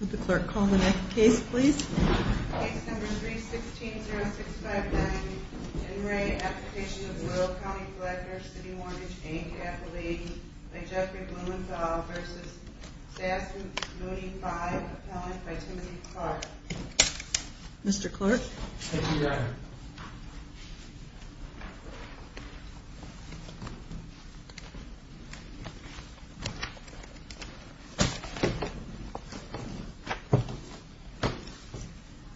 Would the clerk call the next case, please? Case number 3-16-0659. In re Application of Will County Collector City Mortgage Aid Capital Aid by Jeffrey Blumenthal v. Sasson Moody 5, Appellant by Timothy Clark. Mr. Clerk? Thank you, Your Honor.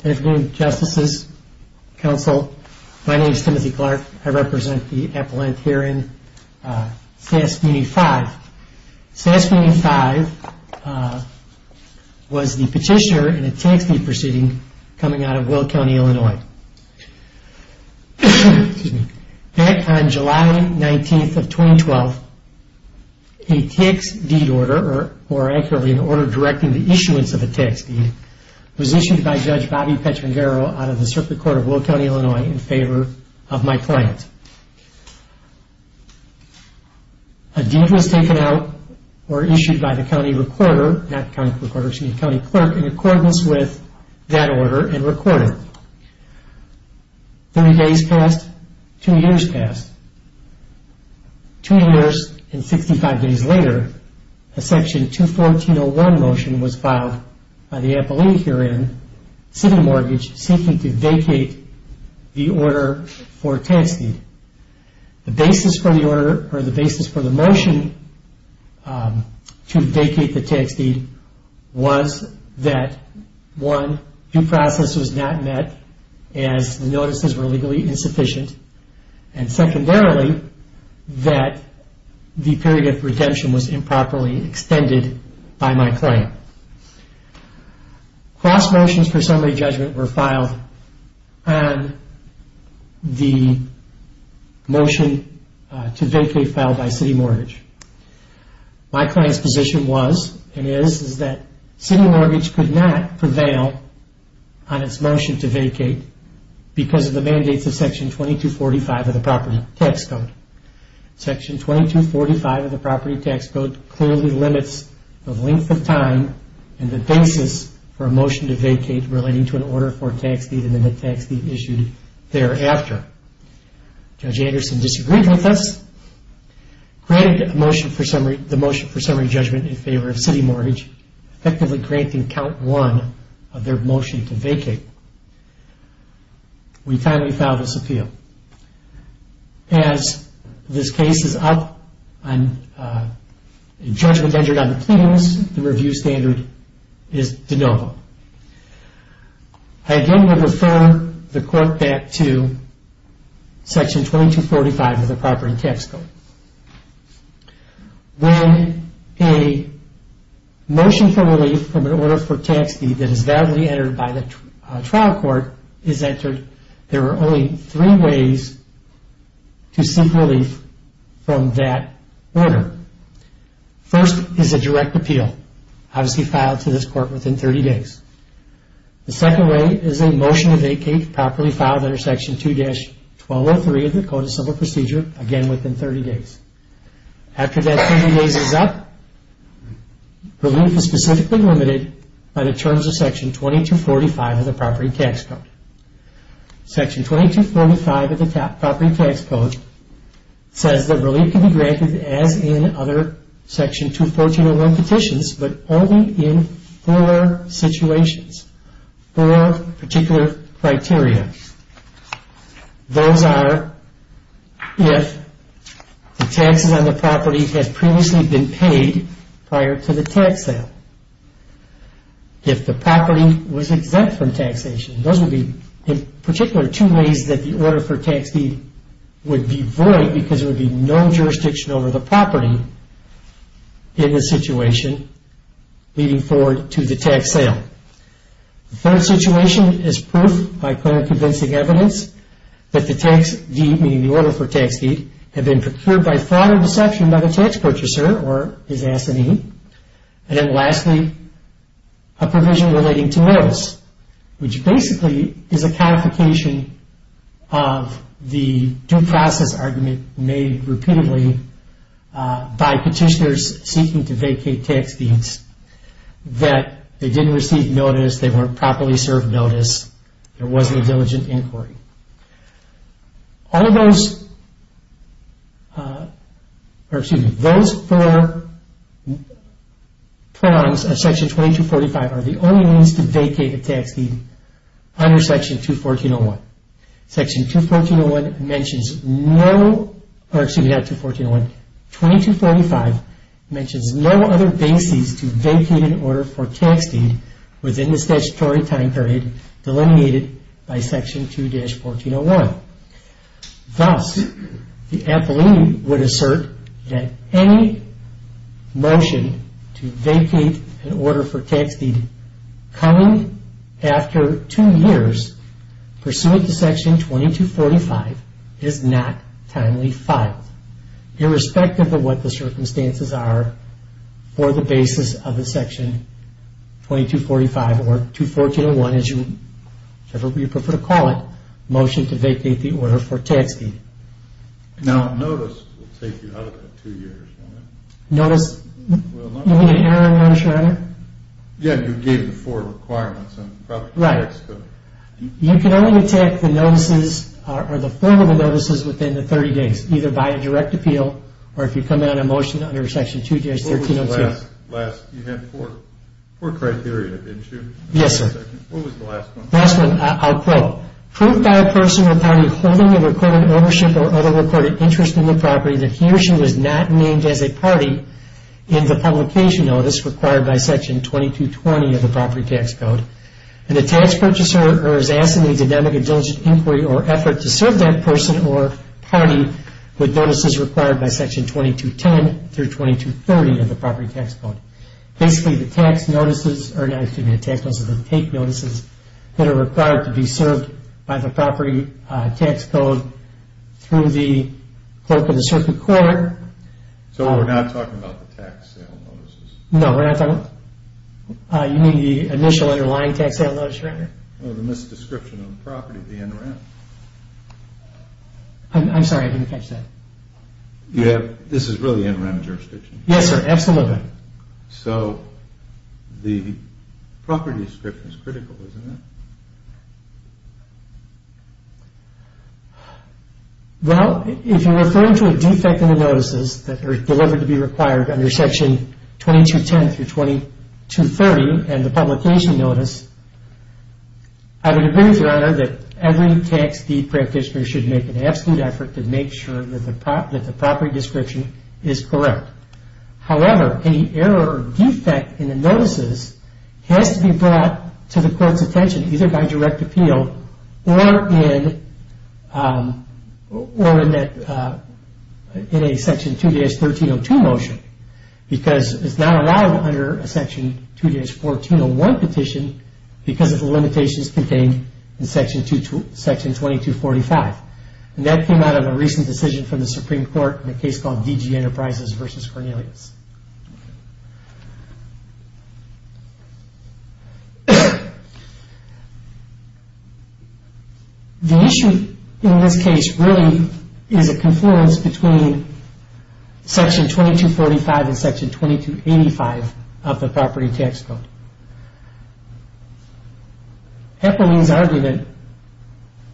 Good afternoon, Justices, Counsel. My name is Timothy Clark. I represent the appellant here in Sass Community 5. Sass Community 5 was the petitioner in a tax deed proceeding coming out of Will County, Illinois. Back on July 19, 2012, a tax deed order, or more accurately, an order directing the issuance of a tax deed, was issued by Judge Bobby Petrangero out of the Circuit Court of Will County, Illinois, in favor of my client. A deed was taken out or issued by the county clerk in accordance with that order and recorded. Thirty days passed. Two years passed. Two years and 65 days later, a Section 214.01 motion was filed by the appellee herein, City Mortgage, seeking to vacate the order for tax deed. The basis for the order, or the basis for the motion to vacate the tax deed, was that, one, due process was not met as the notices were legally insufficient, and secondarily, that the period of redemption was improperly extended by my client. Cross motions for summary judgment were filed on the motion to vacate filed by City Mortgage. My client's position was, and is, is that City Mortgage could not prevail on its motion to vacate because of the mandates of Section 2245 of the Property Tax Code. Section 2245 of the Property Tax Code clearly limits the length of time and the basis for a motion to vacate relating to an order for tax deed and the tax deed issued thereafter. Judge Anderson disagreed with us, granted the motion for summary judgment in favor of City Mortgage, effectively granting count one of their motion to vacate. We finally filed this appeal. As this case is up, and judgment entered on the cleans, the review standard is de novo. I again will refer the Court back to Section 2245 of the Property Tax Code. When a motion for relief from an order for tax deed that is validly entered by the trial court is entered, there are only three ways to seek relief from that order. First is a direct appeal, obviously filed to this Court within 30 days. The second way is a motion to vacate properly filed under Section 2-1203 of the Code of Civil Procedure, again within 30 days. After that 30 days is up, relief is specifically limited by the terms of Section 2245 of the Property Tax Code. Section 2245 of the Property Tax Code says that relief can be granted as in other Section 2-1401 petitions, but only in four situations, four particular criteria. Those are if the taxes on the property have previously been paid prior to the tax sale. If the property was exempt from taxation. Those would be in particular two ways that the order for tax deed would be void because there would be no jurisdiction over the property in this situation leading forward to the tax sale. The third situation is proof by clear convincing evidence that the tax deed, meaning the order for tax deed, had been procured by fraud or deception by the tax purchaser or his assignee. And then lastly, a provision relating to notice, which basically is a codification of the due process argument made repeatedly by petitioners seeking to vacate tax deeds that they didn't receive notice, they weren't properly served notice, there wasn't a diligent inquiry. All of those, or excuse me, those four prongs of Section 2245 are the only means to vacate a tax deed under Section 2-1401. Section 2-1401 mentions no, or excuse me, not 2-1401, 2245 mentions no other basis to vacate an order for tax deed within the statutory time period delineated by Section 2-1401. Thus, the appellee would assert that any motion to vacate an order for tax deed coming after two years pursuant to Section 2245 is not timely filed, irrespective of what the circumstances are for the basis of the Section 2245, or 2-1401 as you prefer to call it, motion to vacate the order for tax deed. Now, notice will take you out of that two years, won't it? Notice, you mean an error in notice or error? Yeah, you gave the four requirements. Right. You can only take the notices or the form of the notices within the 30 days, either by a direct appeal or if you come in on a motion under Section 2-1302. You had four criteria, didn't you? Yes, sir. What was the last one? Last one, I'll quote. Proved by a person or party holding a recorded ownership or other recorded interest in the property that he or she was not named as a party in the publication notice required by Section 2220 of the Property Tax Code. And the tax purchaser is asked in a dynamic and diligent inquiry or effort to serve that person or party with notices required by Section 2210 through 2230 of the Property Tax Code. Basically, the tax notices or the take notices that are required to be served by the Property Tax Code through the clerk of the circuit court. So we're not talking about the tax sale notices? No, we're not. You mean the initial underlying tax sale notice, right? No, the misdescription of the property, the NREM. I'm sorry, I didn't catch that. This is really NREM jurisdiction? Yes, sir, absolutely. So the property description is critical, isn't it? Well, if you're referring to a defect in the notices that are delivered to be required under Section 2210 through 2230 and the publication notice, I would agree with Your Honor that every tax deed practitioner should make an absolute effort to make sure that the property description is correct. However, any error or defect in the notices has to be brought to the court's attention either by direct appeal or in a Section 2-1302 motion because it's not allowed under a Section 2-1401 petition because of the limitations contained in Section 2245. And that came out of a recent decision from the Supreme Court in a case called DG Enterprises v. Cornelius. The issue in this case really is a confluence between Section 2245 and Section 2285 of the Property Tax Code. Epeline's argument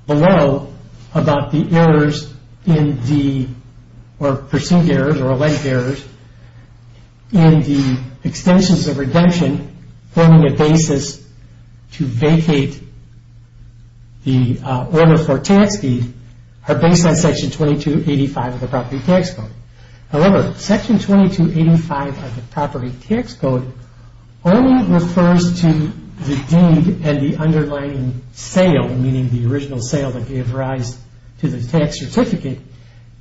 below about the errors in the, or pursued errors or alleged errors in the extensions of redemption forming a basis to vacate the order for a tax deed are based on Section 2285 of the Property Tax Code. However, Section 2285 of the Property Tax Code only refers to the deed and the underlying sale, meaning the original sale that gave rise to the tax certificate,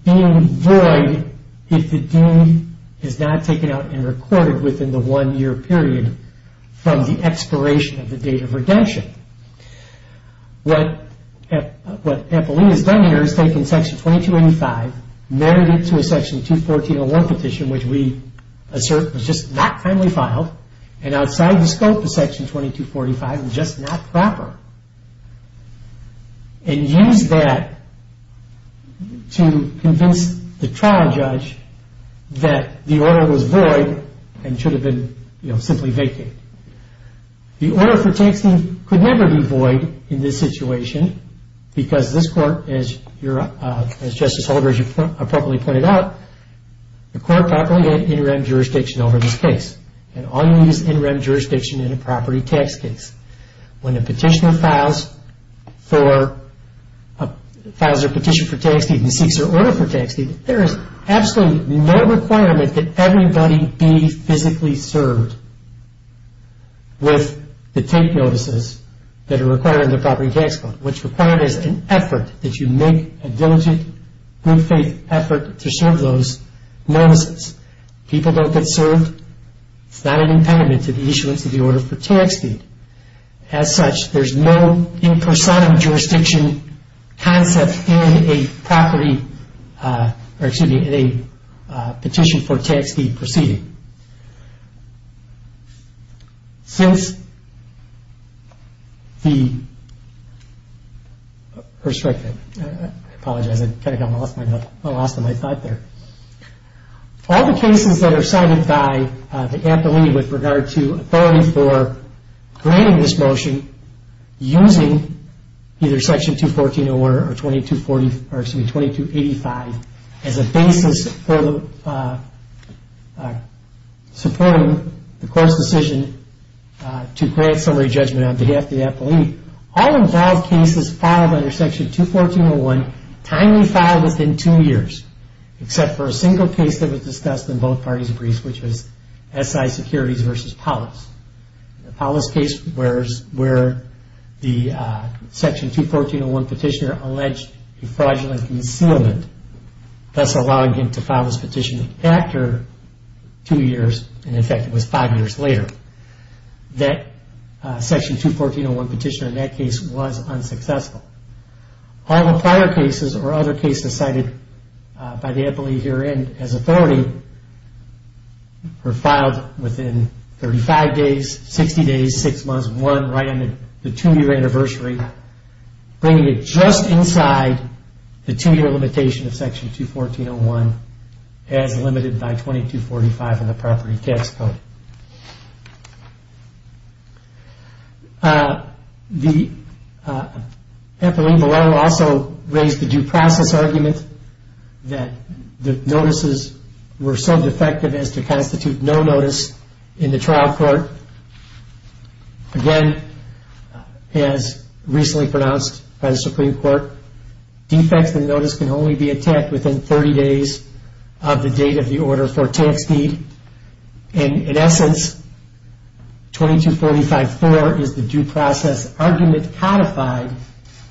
being void if the deed is not taken out and recorded within the one-year period from the expiration of the date of redemption. What Epeline has done here is taken Section 2285, married it to a Section 21401 petition, which we assert was just not finally filed, and outside the scope of Section 2245 and just not proper, and used that to convince the trial judge that the order was void and should have been simply vacated. The order for tax deed could never be void in this situation because this Court, as Justice Holder, as you appropriately pointed out, the Court properly had interim jurisdiction over this case, and all you need is interim jurisdiction in a property tax case. When a petitioner files for, files their petition for tax deed and seeks their order for tax deed, there is absolutely no requirement that everybody be physically served with the tape notices that are required in the Property Tax Code. What's required is an effort, that you make a diligent, good-faith effort to serve those notices. People don't get served. It's not an impediment to the issuance of the order for tax deed. As such, there's no in-person jurisdiction concept in a property, or excuse me, in a petition for tax deed proceeding. Since the, first, I apologize, I kind of got lost in my thought there. All the cases that are cited by the Appellee with regard to authority for granting this motion using either Section 214.01 or 2285 as a basis for supporting the Court's decision to grant summary judgment on behalf of the Appellee, all involved cases filed under Section 214.01, timely filed within two years, except for a single case that was discussed in both parties' briefs, which was SI Securities v. Polis. In the Polis case, where the Section 214.01 petitioner alleged a fraudulent concealment, thus allowing him to file his petition after two years, and in fact it was five years later, that Section 214.01 petitioner in that case was unsuccessful. All the prior cases or other cases cited by the Appellee herein as authority were filed within 35 days, 60 days, six months, one right on the two-year anniversary, bringing it just inside the two-year limitation of Section 214.01 as limited by 2245 in the property tax code. The Appellee below also raised the due process argument that the notices were so defective as to constitute no notice in the trial court. Again, as recently pronounced by the Supreme Court, defects in notice can only be attacked within 30 days of the date of the order for tax deed, and in essence, 2245.4 is the due process argument codified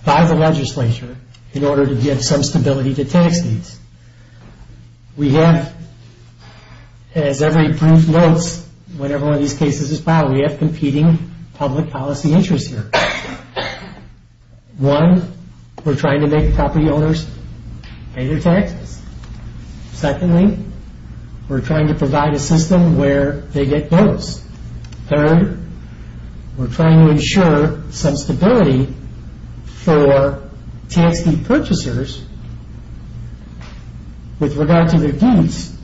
by the legislature in order to give some stability to tax deeds. We have, as every brief notes whenever one of these cases is filed, we have competing public policy interests here. One, we're trying to make property owners pay their taxes. Secondly, we're trying to provide a system where they get notice. Third, we're trying to ensure some stability for tax deed purchasers with regard to their deeds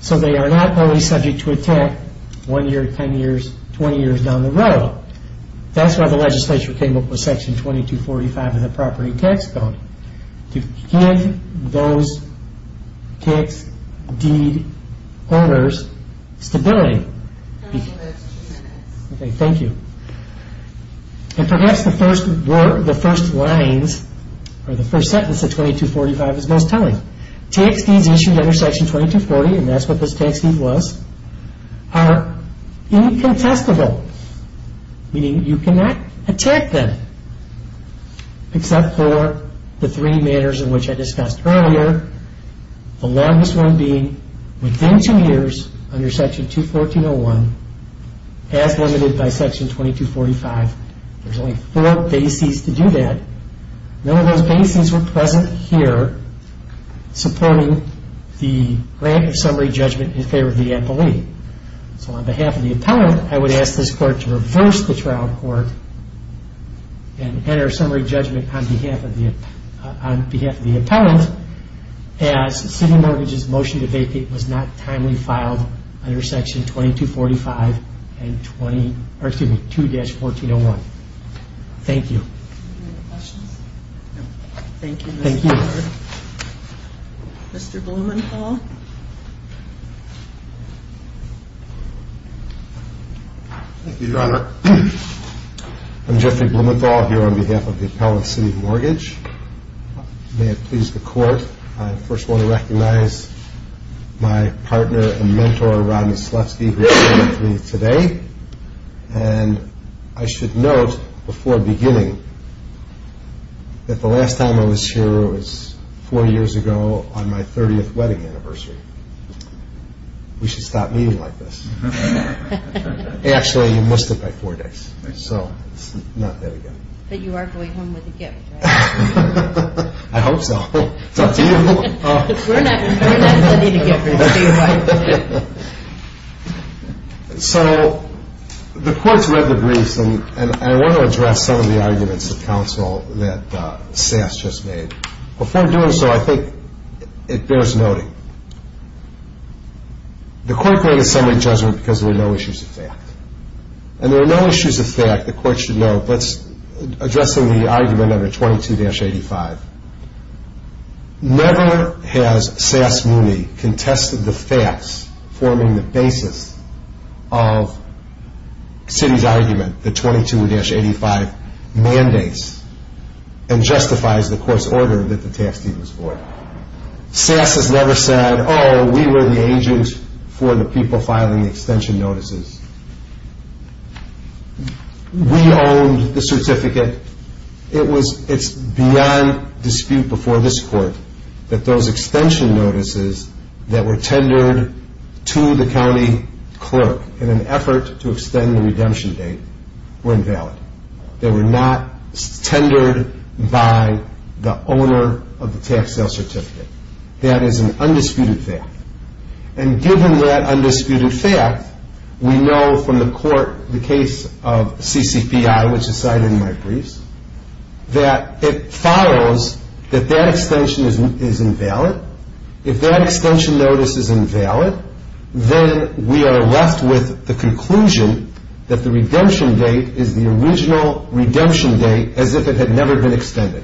so they are not only subject to attack one year, ten years, twenty years down the road. So, that's why the legislature came up with Section 2245 in the property tax code, to give those tax deed owners stability. Okay, thank you. And perhaps the first word, the first lines, or the first sentence of 2245 is most telling. Tax deeds issued under Section 2240, and that's what this tax deed was, are incontestable, meaning you cannot attack them, except for the three matters in which I discussed earlier, the longest one being within two years under Section 214.01, as limited by Section 2245. There's only four bases to do that. None of those bases were present here supporting the grant of summary judgment in favor of the employee. So, on behalf of the appellant, I would ask this Court to reverse the trial court and enter a summary judgment on behalf of the appellant as City Mortgage's motion to vacate was not timely filed under Section 2245, or excuse me, 2-1401. Thank you. Any other questions? No. Thank you. Thank you. Mr. Blumenthal. Thank you, Your Honor. I'm Jeffrey Blumenthal here on behalf of the Appellant City Mortgage. May it please the Court, I first want to recognize my partner and mentor, Rodney Slefsky, who is here with me today. And I should note before beginning that the last time I was here was four years ago on my 30th wedding anniversary. We should stop meeting like this. Actually, you missed it by four days, so it's not that again. But you are going home with a gift, right? I hope so. It's up to you. We're not sending a gift. So, the Court's read the briefs, and I want to address some of the arguments of counsel that Sass just made. Before doing so, I think it bears noting. The Court granted summary judgment because there were no issues of fact. And there were no issues of fact, the Court should note, addressing the argument under 22-85. Never has Sass Mooney contested the facts forming the basis of City's argument, the 22-85 mandates, and justifies the Court's order that the tax deed was void. Sass has never said, oh, we were the agent for the people filing the extension notices. We owned the certificate. It's beyond dispute before this Court that those extension notices that were tendered to the county clerk in an effort to extend the redemption date were invalid. They were not tendered by the owner of the tax sale certificate. That is an undisputed fact. And given that undisputed fact, we know from the Court, the case of CCPI, which is cited in my briefs, that it follows that that extension is invalid. If that extension notice is invalid, then we are left with the conclusion that the redemption date is the original redemption date as if it had never been extended.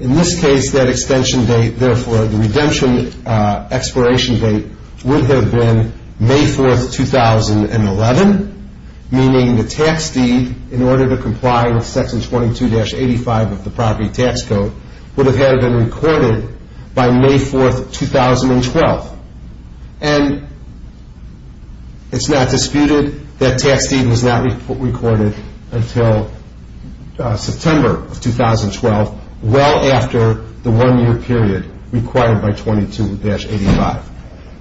In this case, that extension date, therefore, the redemption expiration date, would have been May 4, 2011, meaning the tax deed, in order to comply with section 22-85 of the property tax code, would have had it been recorded by May 4, 2012. And it's not disputed that tax deed was not recorded until September of 2012, well after the one-year period required by 22-85.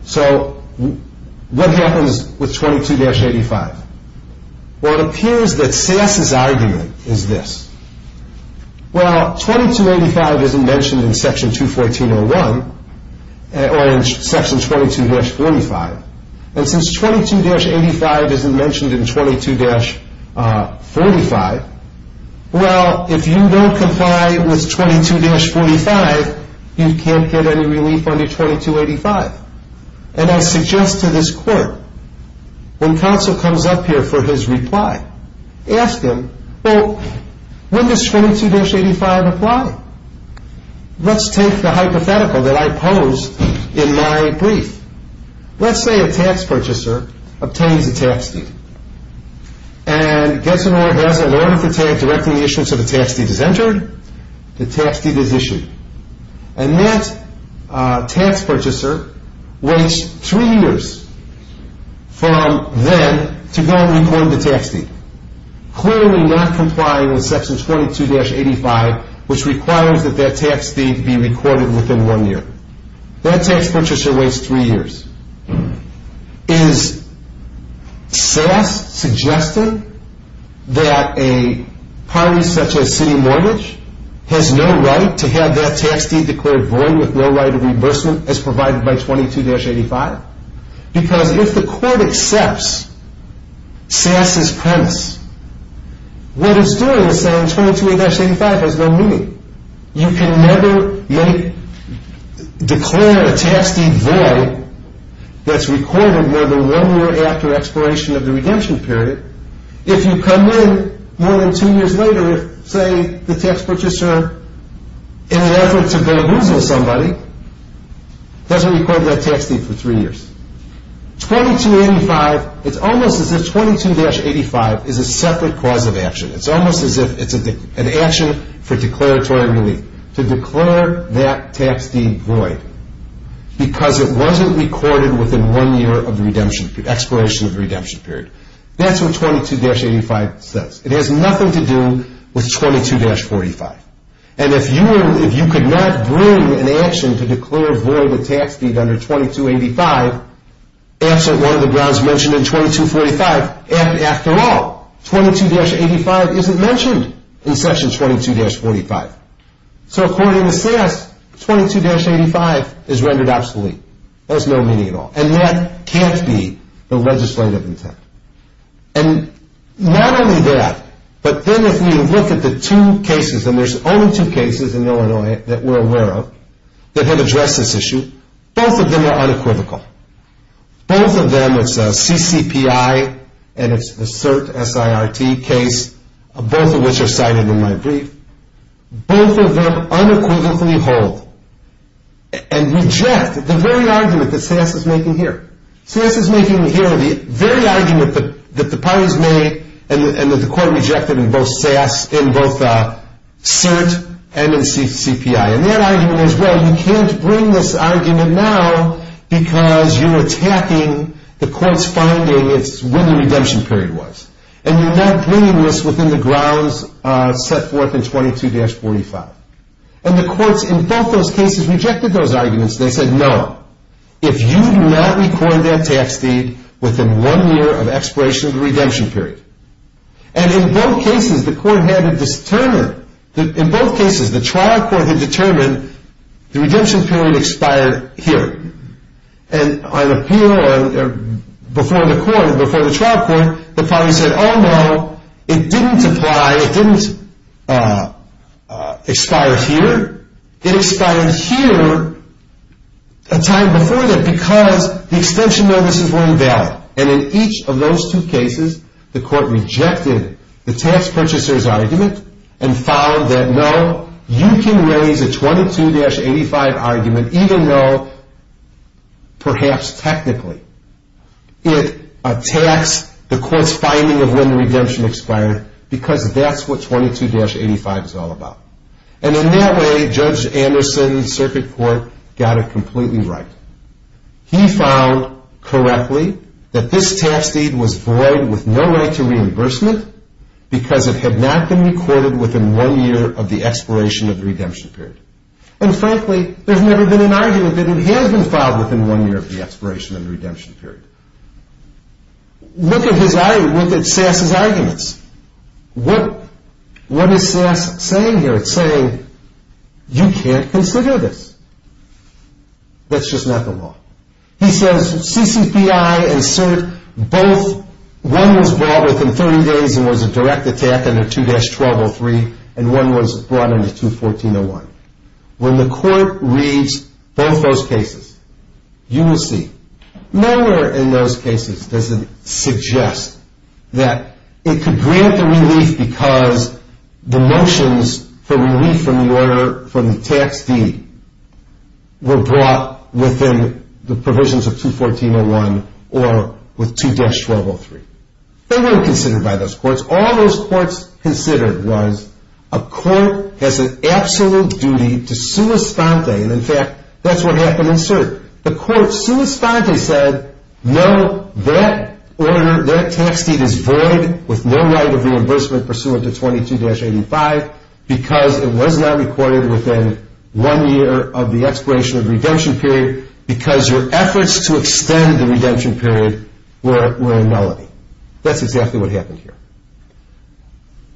So what happens with 22-85? Well, it appears that SAS's argument is this. Well, 22-85 isn't mentioned in section 214.01, or in section 22-45. And since 22-85 isn't mentioned in 22-45, well, if you don't comply with 22-45, you can't get any relief under 22-85. And I suggest to this Court, when counsel comes up here for his reply, ask him, well, when does 22-85 apply? Let's take the hypothetical that I pose in my brief. Let's say a tax purchaser obtains a tax deed. And gets an order, has an order to take, directing the issuance of a tax deed is entered, the tax deed is issued. And that tax purchaser waits three years from then to go and record the tax deed, clearly not complying with section 22-85, which requires that that tax deed be recorded within one year. That tax purchaser waits three years. Is SAS suggesting that a party such as City Mortgage has no right to have that tax deed declared void with no right of reimbursement as provided by 22-85? Because if the Court accepts SAS's premise, what it's doing is saying 22-85 has no meaning. You can never declare a tax deed void that's recorded more than one year after expiration of the redemption period. If you come in more than two years later, say, the tax purchaser, in an effort to belittle somebody, doesn't record that tax deed for three years. 22-85, it's almost as if 22-85 is a separate cause of action. It's almost as if it's an action for declaratory relief to declare that tax deed void because it wasn't recorded within one year of the redemption period, expiration of the redemption period. That's what 22-85 says. It has nothing to do with 22-45. And if you could not bring an action to declare void a tax deed under 22-85, absent one of the grounds mentioned in 22-45, and after all, 22-85 isn't mentioned in section 22-45. So according to SAS, 22-85 is rendered obsolete. That has no meaning at all. And that can't be the legislative intent. And not only that, but then if we look at the two cases, and there's only two cases in Illinois that we're aware of that have addressed this issue, both of them are unequivocal. Both of them, it's CCPI and it's the CERT, S-I-R-T case, both of which are cited in my brief. Both of them unequivocally hold and reject the very argument that SAS is making here. SAS is making here the very argument that the parties made and that the court rejected in both CERT and in CCPI. And that argument is, well, you can't bring this argument now because you're attacking the court's finding, it's when the redemption period was. And you're not bringing this within the grounds set forth in 22-45. And the courts in both those cases rejected those arguments. They said, no, if you do not record that tax deed within one year of expiration of the redemption period. And in both cases, the trial court had determined the redemption period expired here. And on appeal before the trial court, the parties said, oh, no, it didn't apply, it didn't expire here. It expired here a time before that because the extension notices weren't valid. And in each of those two cases, the court rejected the tax purchaser's argument and found that, no, you can raise a 22-85 argument even though perhaps technically it attacks the court's finding of when the redemption expired because that's what 22-85 is all about. And in that way, Judge Anderson's circuit court got it completely right. He found correctly that this tax deed was void with no right to reimbursement because it had not been recorded within one year of the expiration of the redemption period. And frankly, there's never been an argument that it has been filed within one year of the expiration of the redemption period. Look at Sass's arguments. What is Sass saying here? It's saying, you can't consider this. That's just not the law. He says, CCPI and CERT, both, one was brought within 30 days and was a direct attack under 2-1203, and one was brought under 214-01. When the court reads both those cases, you will see. Nowhere in those cases does it suggest that it could grant the relief because the motions for relief from the order for the tax deed were brought within the provisions of 214-01 or with 2-1203. They weren't considered by those courts. All those courts considered was a court has an absolute duty to sua sponte, and in fact, that's what happened in CERT. The court sua sponte said, no, that order, that tax deed is void with no right of reimbursement pursuant to 22-85 because it was not recorded within one year of the expiration of the redemption period because your efforts to extend the redemption period were a nullity. That's exactly what happened here.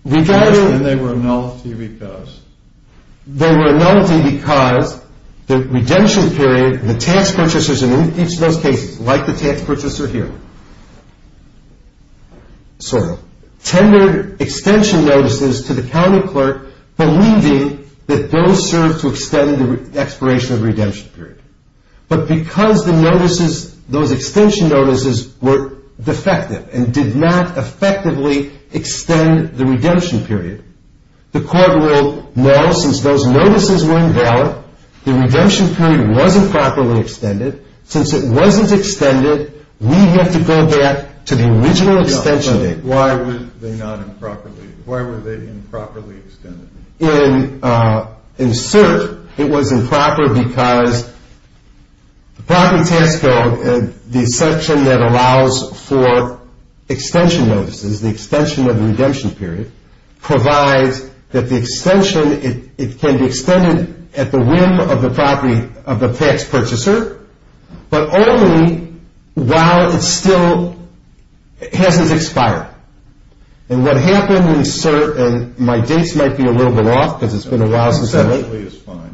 And they were a nullity because? They were a nullity because the redemption period, the tax purchasers in each of those cases, like the tax purchaser here, tended extension notices to the county clerk believing that those served to extend the expiration of the redemption period. But because those extension notices were defective and did not effectively extend the redemption period, the court ruled, no, since those notices were invalid, the redemption period wasn't properly extended. Since it wasn't extended, we have to go back to the original extension date. Why were they improperly extended? In CERT, it was improper because the property tax code, the section that allows for extension notices, the extension of the redemption period, provides that the extension, it can be extended at the whim of the property, of the tax purchaser, but only while it still hasn't expired. And what happened in CERT, and my dates might be a little bit off because it's been a while since I wrote. Essentially, it's fine.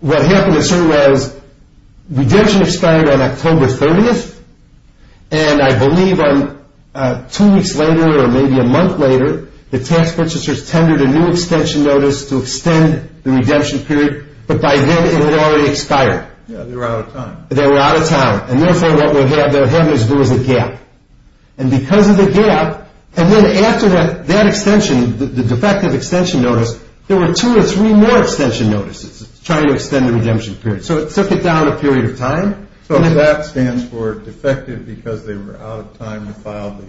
What happened in CERT was redemption expired on October 30th, and I believe two weeks later or maybe a month later, the tax purchasers tendered a new extension notice to extend the redemption period, but by then it had already expired. Yeah, they were out of time. They were out of time, and therefore what they were having to do was a gap. And because of the gap, and then after that extension, the defective extension notice, there were two or three more extension notices trying to extend the redemption period. So it took it down a period of time. So that stands for defective because they were out of time to file the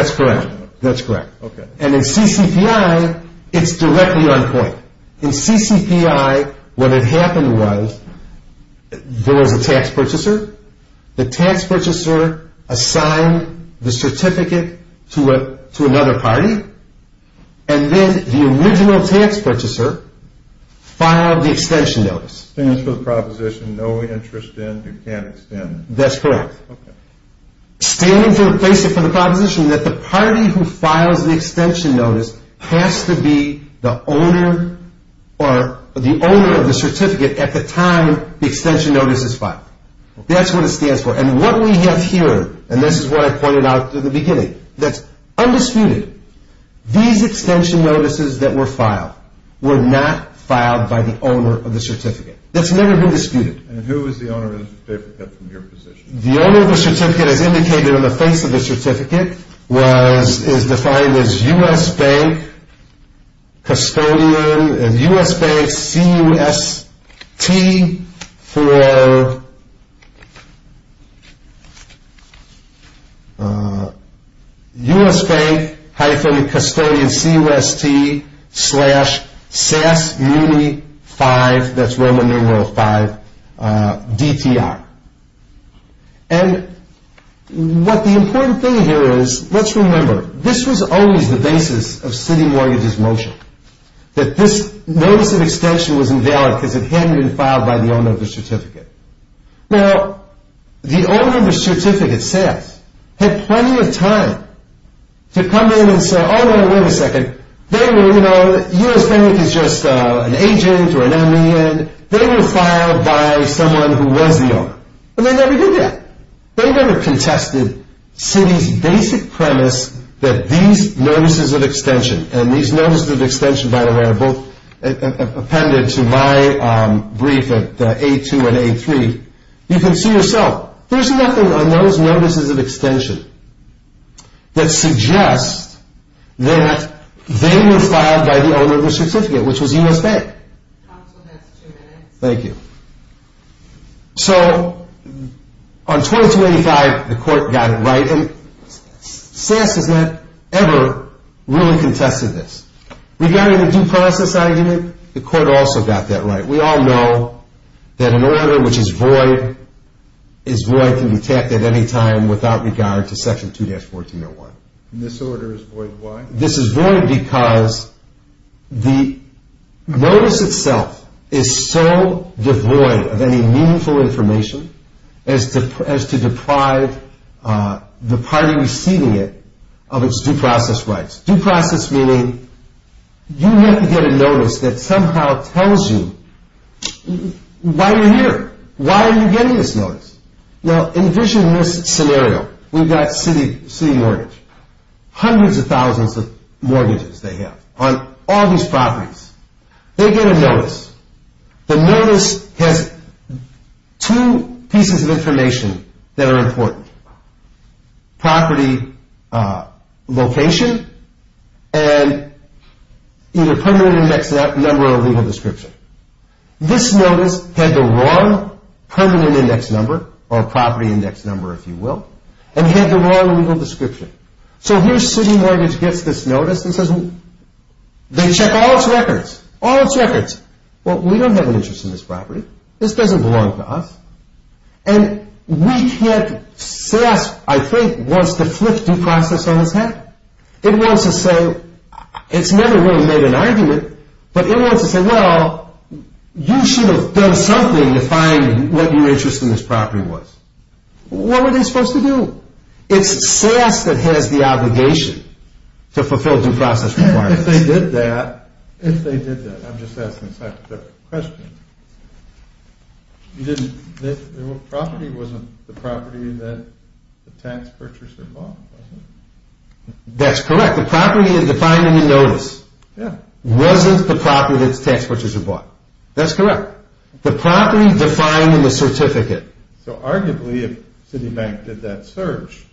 extension notice. That's correct. Okay. And in CCPI, it's directly on point. In CCPI, what had happened was there was a tax purchaser. The tax purchaser assigned the certificate to another party, and then the original tax purchaser filed the extension notice. Stands for the proposition, no interest in, you can't extend. That's correct. Okay. Standing for the proposition that the party who files the extension notice has to be the owner or the owner of the certificate at the time the extension notice is filed. That's what it stands for. And what we have here, and this is what I pointed out at the beginning, that's undisputed. These extension notices that were filed were not filed by the owner of the certificate. That's never been disputed. And who is the owner of the certificate from your position? The owner of the certificate, as indicated on the face of the certificate, is defined as U.S. Bank Custodian and U.S. Bank CUST for U.S. Bank-Custodian CUST slash SAS Muni 5, that's Roman numeral 5, DTR. And what the important thing here is, let's remember, this was always the basis of city mortgages motion, that this notice of extension was invalid because it hadn't been filed by the owner of the certificate. Now, the owner of the certificate, SAS, had plenty of time to come in and say, Oh, wait a second, U.S. Bank is just an agent or an eminent. They were filed by someone who was the owner. And they never did that. They never contested city's basic premise that these notices of extension, and these notices of extension, by the way, are both appended to my brief at A2 and A3. You can see yourself. There's nothing on those notices of extension that suggests that they were filed by the owner of the certificate, which was U.S. Bank. Thank you. So, on 2285, the court got it right, and SAS has not ever really contested this. Regarding the due process argument, the court also got that right. We all know that an order which is void is void and can be tapped at any time without regard to Section 2-1401. And this order is void why? This is void because the notice itself is so devoid of any meaningful information as to deprive the party receiving it of its due process rights. Due process meaning you have to get a notice that somehow tells you why you're here. Why are you getting this notice? Now, envision this scenario. We've got city mortgage. Hundreds of thousands of mortgages they have on all these properties. They get a notice. The notice has two pieces of information that are important. Property location and either permanent index number or legal description. This notice had the wrong permanent index number or property index number, if you will, and had the wrong legal description. So, here city mortgage gets this notice and says they check all its records, all its records. Well, we don't have an interest in this property. This doesn't belong to us. And we can't, SAS, I think, wants to flip due process on its head. It wants to say, it's never really made an argument, but it wants to say, well, you should have done something to find what your interest in this property was. What were they supposed to do? It's SAS that has the obligation to fulfill due process requirements. If they did that, if they did that, I'm just asking a hypothetical question. The property wasn't the property that the tax purchaser bought, was it? That's correct. The property defined in the notice wasn't the property that the tax purchaser bought. That's correct. The property defined in the certificate. So, arguably, if Citibank did that search.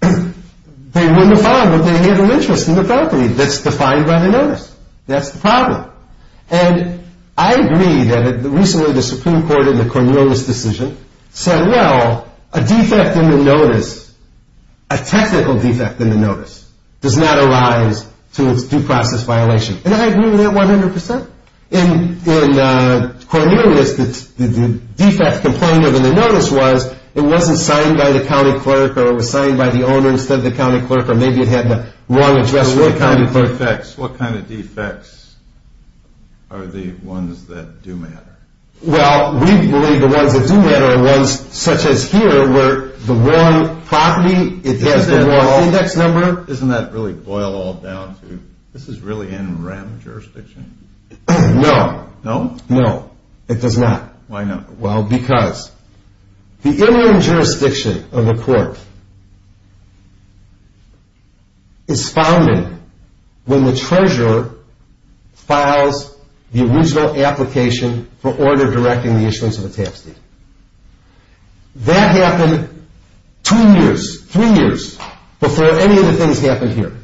They wouldn't have found what they had an interest in the property. That's defined by the notice. That's the problem. And I agree that recently the Supreme Court in the Cornelius decision said, well, a defect in the notice, a technical defect in the notice, does not arise to its due process violation. And I agree with that 100%. In Cornelius, the defect complained of in the notice was it wasn't signed by the county clerk or it was signed by the owner instead of the county clerk, or maybe it had the wrong address for the county clerk. What kind of defects are the ones that do matter? Well, we believe the ones that do matter are ones such as here where the wrong property, it has the wrong index number. Doesn't that really boil all down to this is really in REM jurisdiction? No. No? No, it does not. Why not? Well, because the interim jurisdiction of the court is founded when the treasurer files the original application for order directing the issuance of a tax deed. That happened two years, three years before any of the things happened here.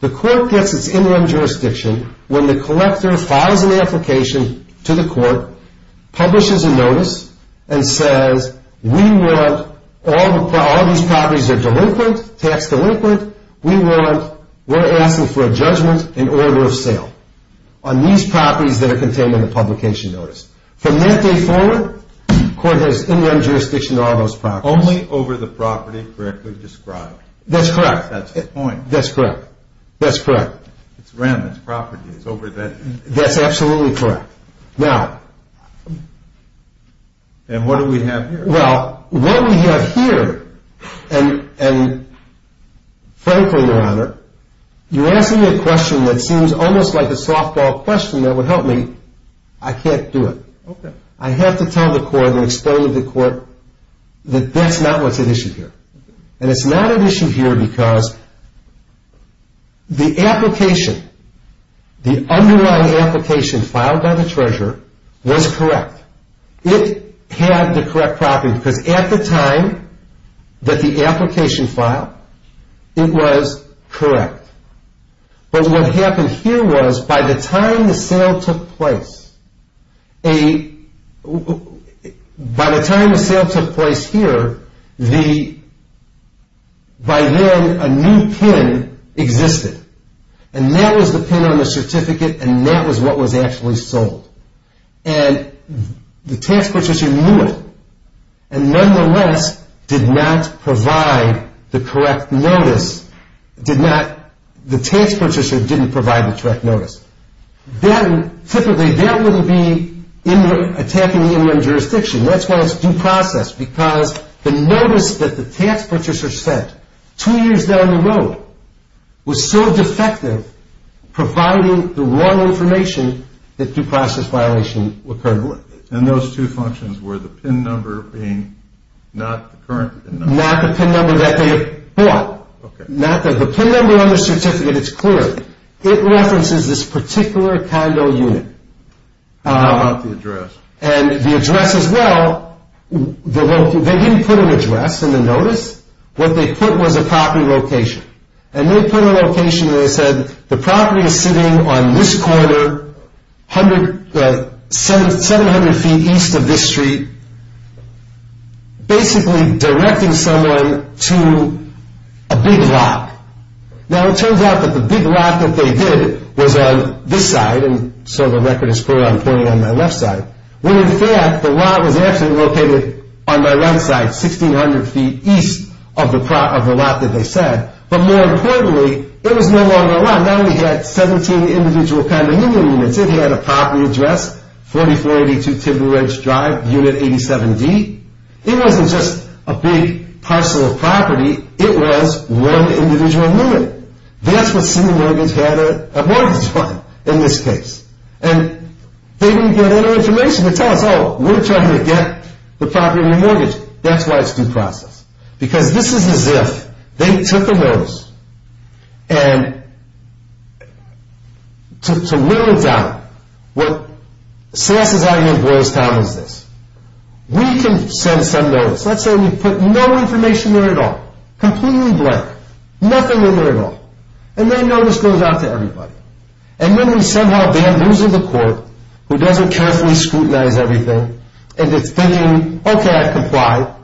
The court gets its interim jurisdiction when the collector files an application to the court, publishes a notice, and says we want all these properties that are delinquent, tax delinquent, we're asking for a judgment in order of sale on these properties that are contained in the publication notice. From that day forward, the court has interim jurisdiction on all those properties. Only over the property correctly described. That's correct. That's the point. That's correct. That's correct. It's REM. It's property. It's over that. That's absolutely correct. Now. And what do we have here? Well, what we have here, and frankly, Your Honor, you're asking a question that seems almost like a softball question that would help me. I can't do it. Okay. I have to tell the court and explain to the court that that's not what's at issue here. And it's not at issue here because the application, the underlying application filed by the treasurer was correct. It had the correct property because at the time that the application filed, it was correct. But what happened here was by the time the sale took place, by the time the sale took place here, by then, a new PIN existed. And that was the PIN on the certificate, and that was what was actually sold. And the tax purchaser knew it and, nonetheless, did not provide the correct notice, did not, the tax purchaser didn't provide the correct notice. Then, typically, that wouldn't be attacking the interim jurisdiction. That's why it's due process because the notice that the tax purchaser sent two years down the road was so defective, providing the wrong information that due process violation occurred with. And those two functions were the PIN number being not the current PIN number? Not the PIN number that they had bought. Okay. Not the PIN number on the certificate. It's clear. It references this particular condo unit. How about the address? And the address as well, they didn't put an address in the notice. What they put was a property location. And they put a location where they said the property is sitting on this corner, 700 feet east of this street, basically directing someone to a big lot. Now, it turns out that the big lot that they did was on this side, and so the record is clear, I'm pointing on my left side. Well, in fact, the lot was actually located on my right side, 1,600 feet east of the lot that they said. But more importantly, it was no longer a lot. Now we had 17 individual condominium units. It had a property address, 4482 Tiber Ridge Drive, Unit 87D. It wasn't just a big parcel of property. It was one individual unit. That's what City Mortgage had a mortgage on in this case. And they didn't get any information to tell us, oh, we're trying to get the property remortgaged. That's why it's due process. Because this is as if they took the notice and took to literal doubt. What sass is out here in Boylestown is this. We can send some notice. Let's say we put no information there at all, completely blank, nothing in there at all. And that notice goes out to everybody. And then we somehow bamboozle the court, who doesn't carefully scrutinize everything, and is thinking, okay, I've complied.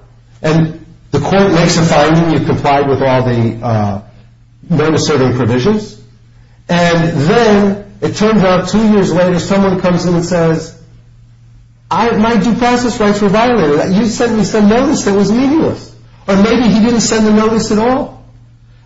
And the court makes a finding. You've complied with all the notice-serving provisions. And then it turns out two years later someone comes in and says, my due process rights were violated. You sent me some notice that was needless. Or maybe he didn't send the notice at all.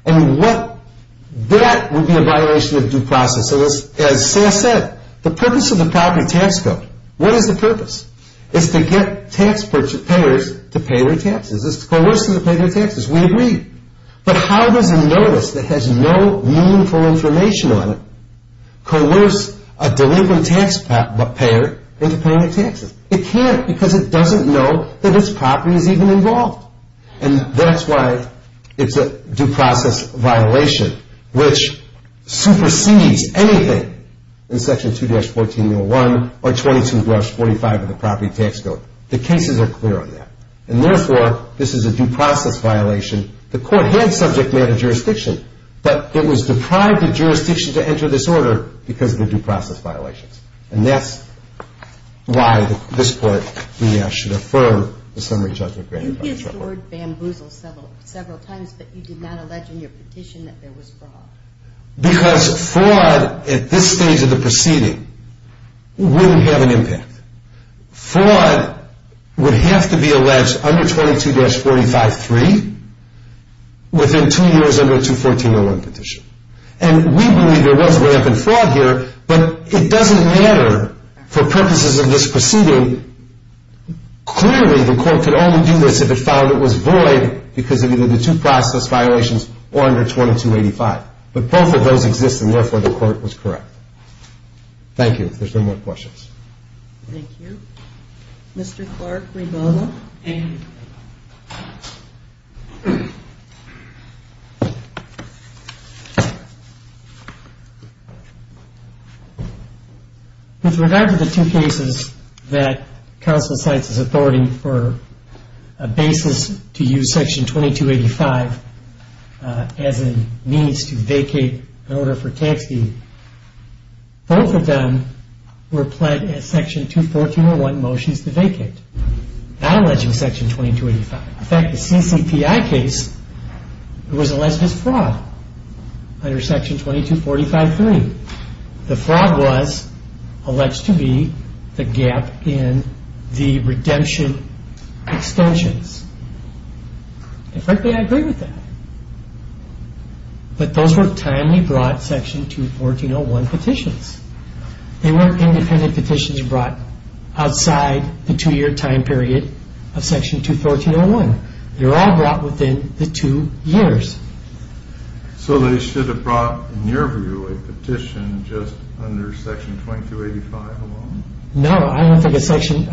And that would be a violation of due process. And as sass said, the purpose of the property tax code, what is the purpose? It's to get taxpayers to pay their taxes. It's to coerce them to pay their taxes. We agree. But how does a notice that has no meaningful information on it coerce a delinquent taxpayer into paying their taxes? It can't because it doesn't know that its property is even involved. And that's why it's a due process violation, which supersedes anything in Section 2-14.01 or 22-45 of the property tax code. The cases are clear on that. And therefore, this is a due process violation. The court had subject matter jurisdiction, but it was deprived of jurisdiction to enter this order because of the due process violations. And that's why this court should affirm the summary judgment granted by the judge. You've heard bamboozle several times, but you did not allege in your petition that there was fraud. Because fraud at this stage of the proceeding wouldn't have an impact. Fraud would have to be alleged under 22-45.3 within two years under a 2-14.01 petition. And we believe there was rampant fraud here, but it doesn't matter for purposes of this proceeding. Clearly, the court could only do this if it found it was void because of either the due process violations or under 22-85. But both of those exist, and therefore, the court was correct. Thank you. If there's no more questions. Thank you. Mr. Clark, Rebola. Thank you. With regard to the two cases that counsel cites as authority for a basis to use Section 22-85 as a means to vacate an order for tax deed, both of them were pled as Section 2-14-01 motions to vacate, not alleging Section 22-85. In fact, the CCPI case was alleged as fraud under Section 22-45.3. The fraud was alleged to be the gap in the redemption extensions. And frankly, I agree with that. But those were timely brought Section 2-14-01 petitions. They weren't independent petitions brought outside the two-year time period of Section 2-14-01. They were all brought within the two years. So they should have brought, in your view, a petition just under Section 22-85 alone? No, I don't think a section,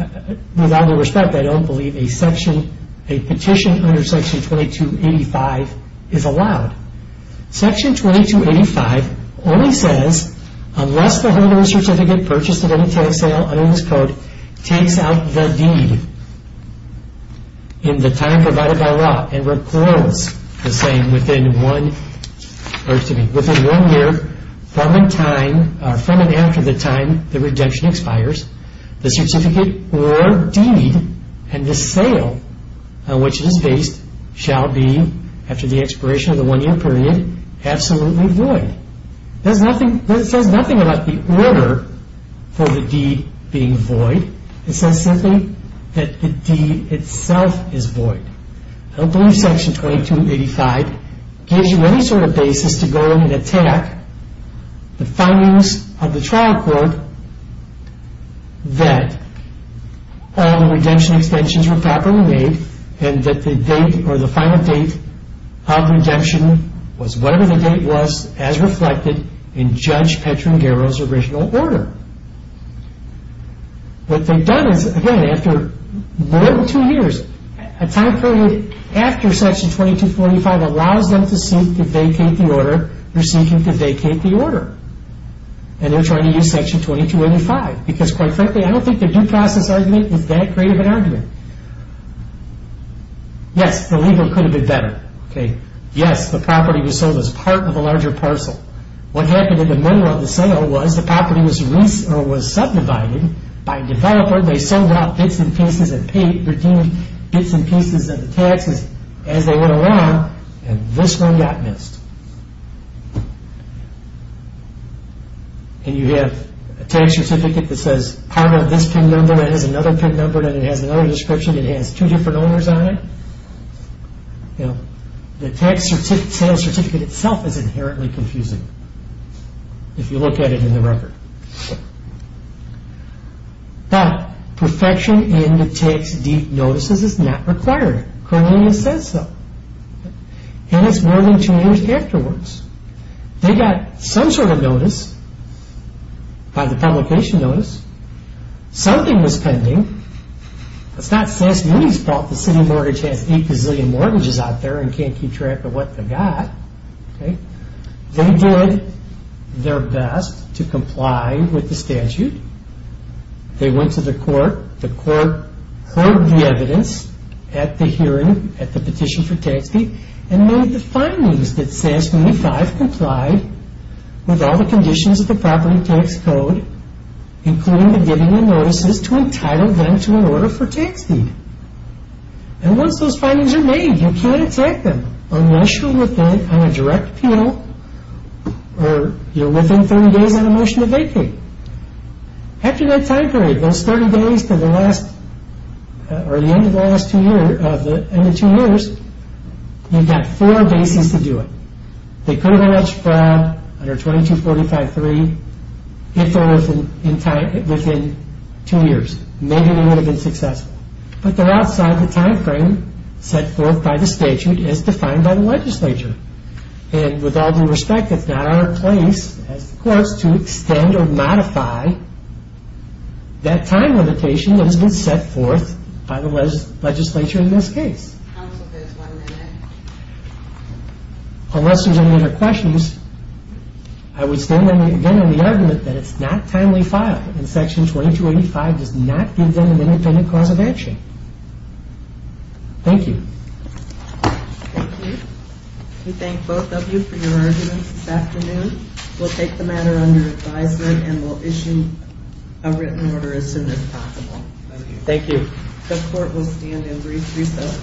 with all due respect, I don't believe a section, a petition under Section 22-85 is allowed. Section 22-85 only says unless the holder of a certificate purchased at any tax sale under this code takes out the deed in the time provided by law the same within one year from and after the time the redemption expires, the certificate or deed and the sale on which it is based shall be, after the expiration of the one-year period, absolutely void. It says nothing about the order for the deed being void. It says simply that the deed itself is void. I don't believe Section 22-85 gives you any sort of basis to go in and attack the findings of the trial court that all the redemption extensions were properly made and that the date or the final date of redemption was whatever the date was as reflected in Judge Petrangero's original order. What they've done is, again, after more than two years, a time period after Section 22-85 allows them to seek to vacate the order they're seeking to vacate the order. And they're trying to use Section 22-85 because, quite frankly, I don't think their due process argument is that great of an argument. Yes, the legal could have been better. Yes, the property was sold as part of a larger parcel. What happened in the middle of the sale was the property was subdivided by a developer. They sold out bits and pieces and paid, redeemed bits and pieces of the taxes as they went along, and this one got missed. And you have a tax certificate that says part of this PIN number and it has another PIN number and it has another description. It has two different owners on it. The tax sale certificate itself is inherently confusing if you look at it in the record. But perfection in the tax deed notices is not required. Colonia says so. And it's more than two years afterwards. They got some sort of notice by the publication notice. Something was pending. It's not Sass Mooney's fault the city mortgage has eight gazillion mortgages out there and can't keep track of what they got. They did their best to comply with the statute. They went to the court. The court heard the evidence at the hearing, at the petition for tax deed, and made the findings that Sass Mooney 5 complied with all the conditions of the property tax code, including the giving of notices to entitle them to an order for tax deed. And once those findings are made, you can't exact them unless you're within on a direct appeal or you're within 30 days on a motion to vacate. After that time period, those 30 days to the end of the last two years, you've got four bases to do it. They could have alleged fraud under 2245.3 if they were within two years. Maybe they would have been successful. But they're outside the time frame set forth by the statute as defined by the legislature. And with all due respect, it's not our place as the courts to extend or modify that time limitation that has been set forth by the legislature in this case. Unless there's any other questions, I would stand again on the argument that it's not timely file. And Section 2285 does not give them an independent cause of action. Thank you. We thank both of you for your arguments this afternoon. We'll take the matter under advisement and we'll issue a written order as soon as possible. Thank you. The court will stand and brief recess.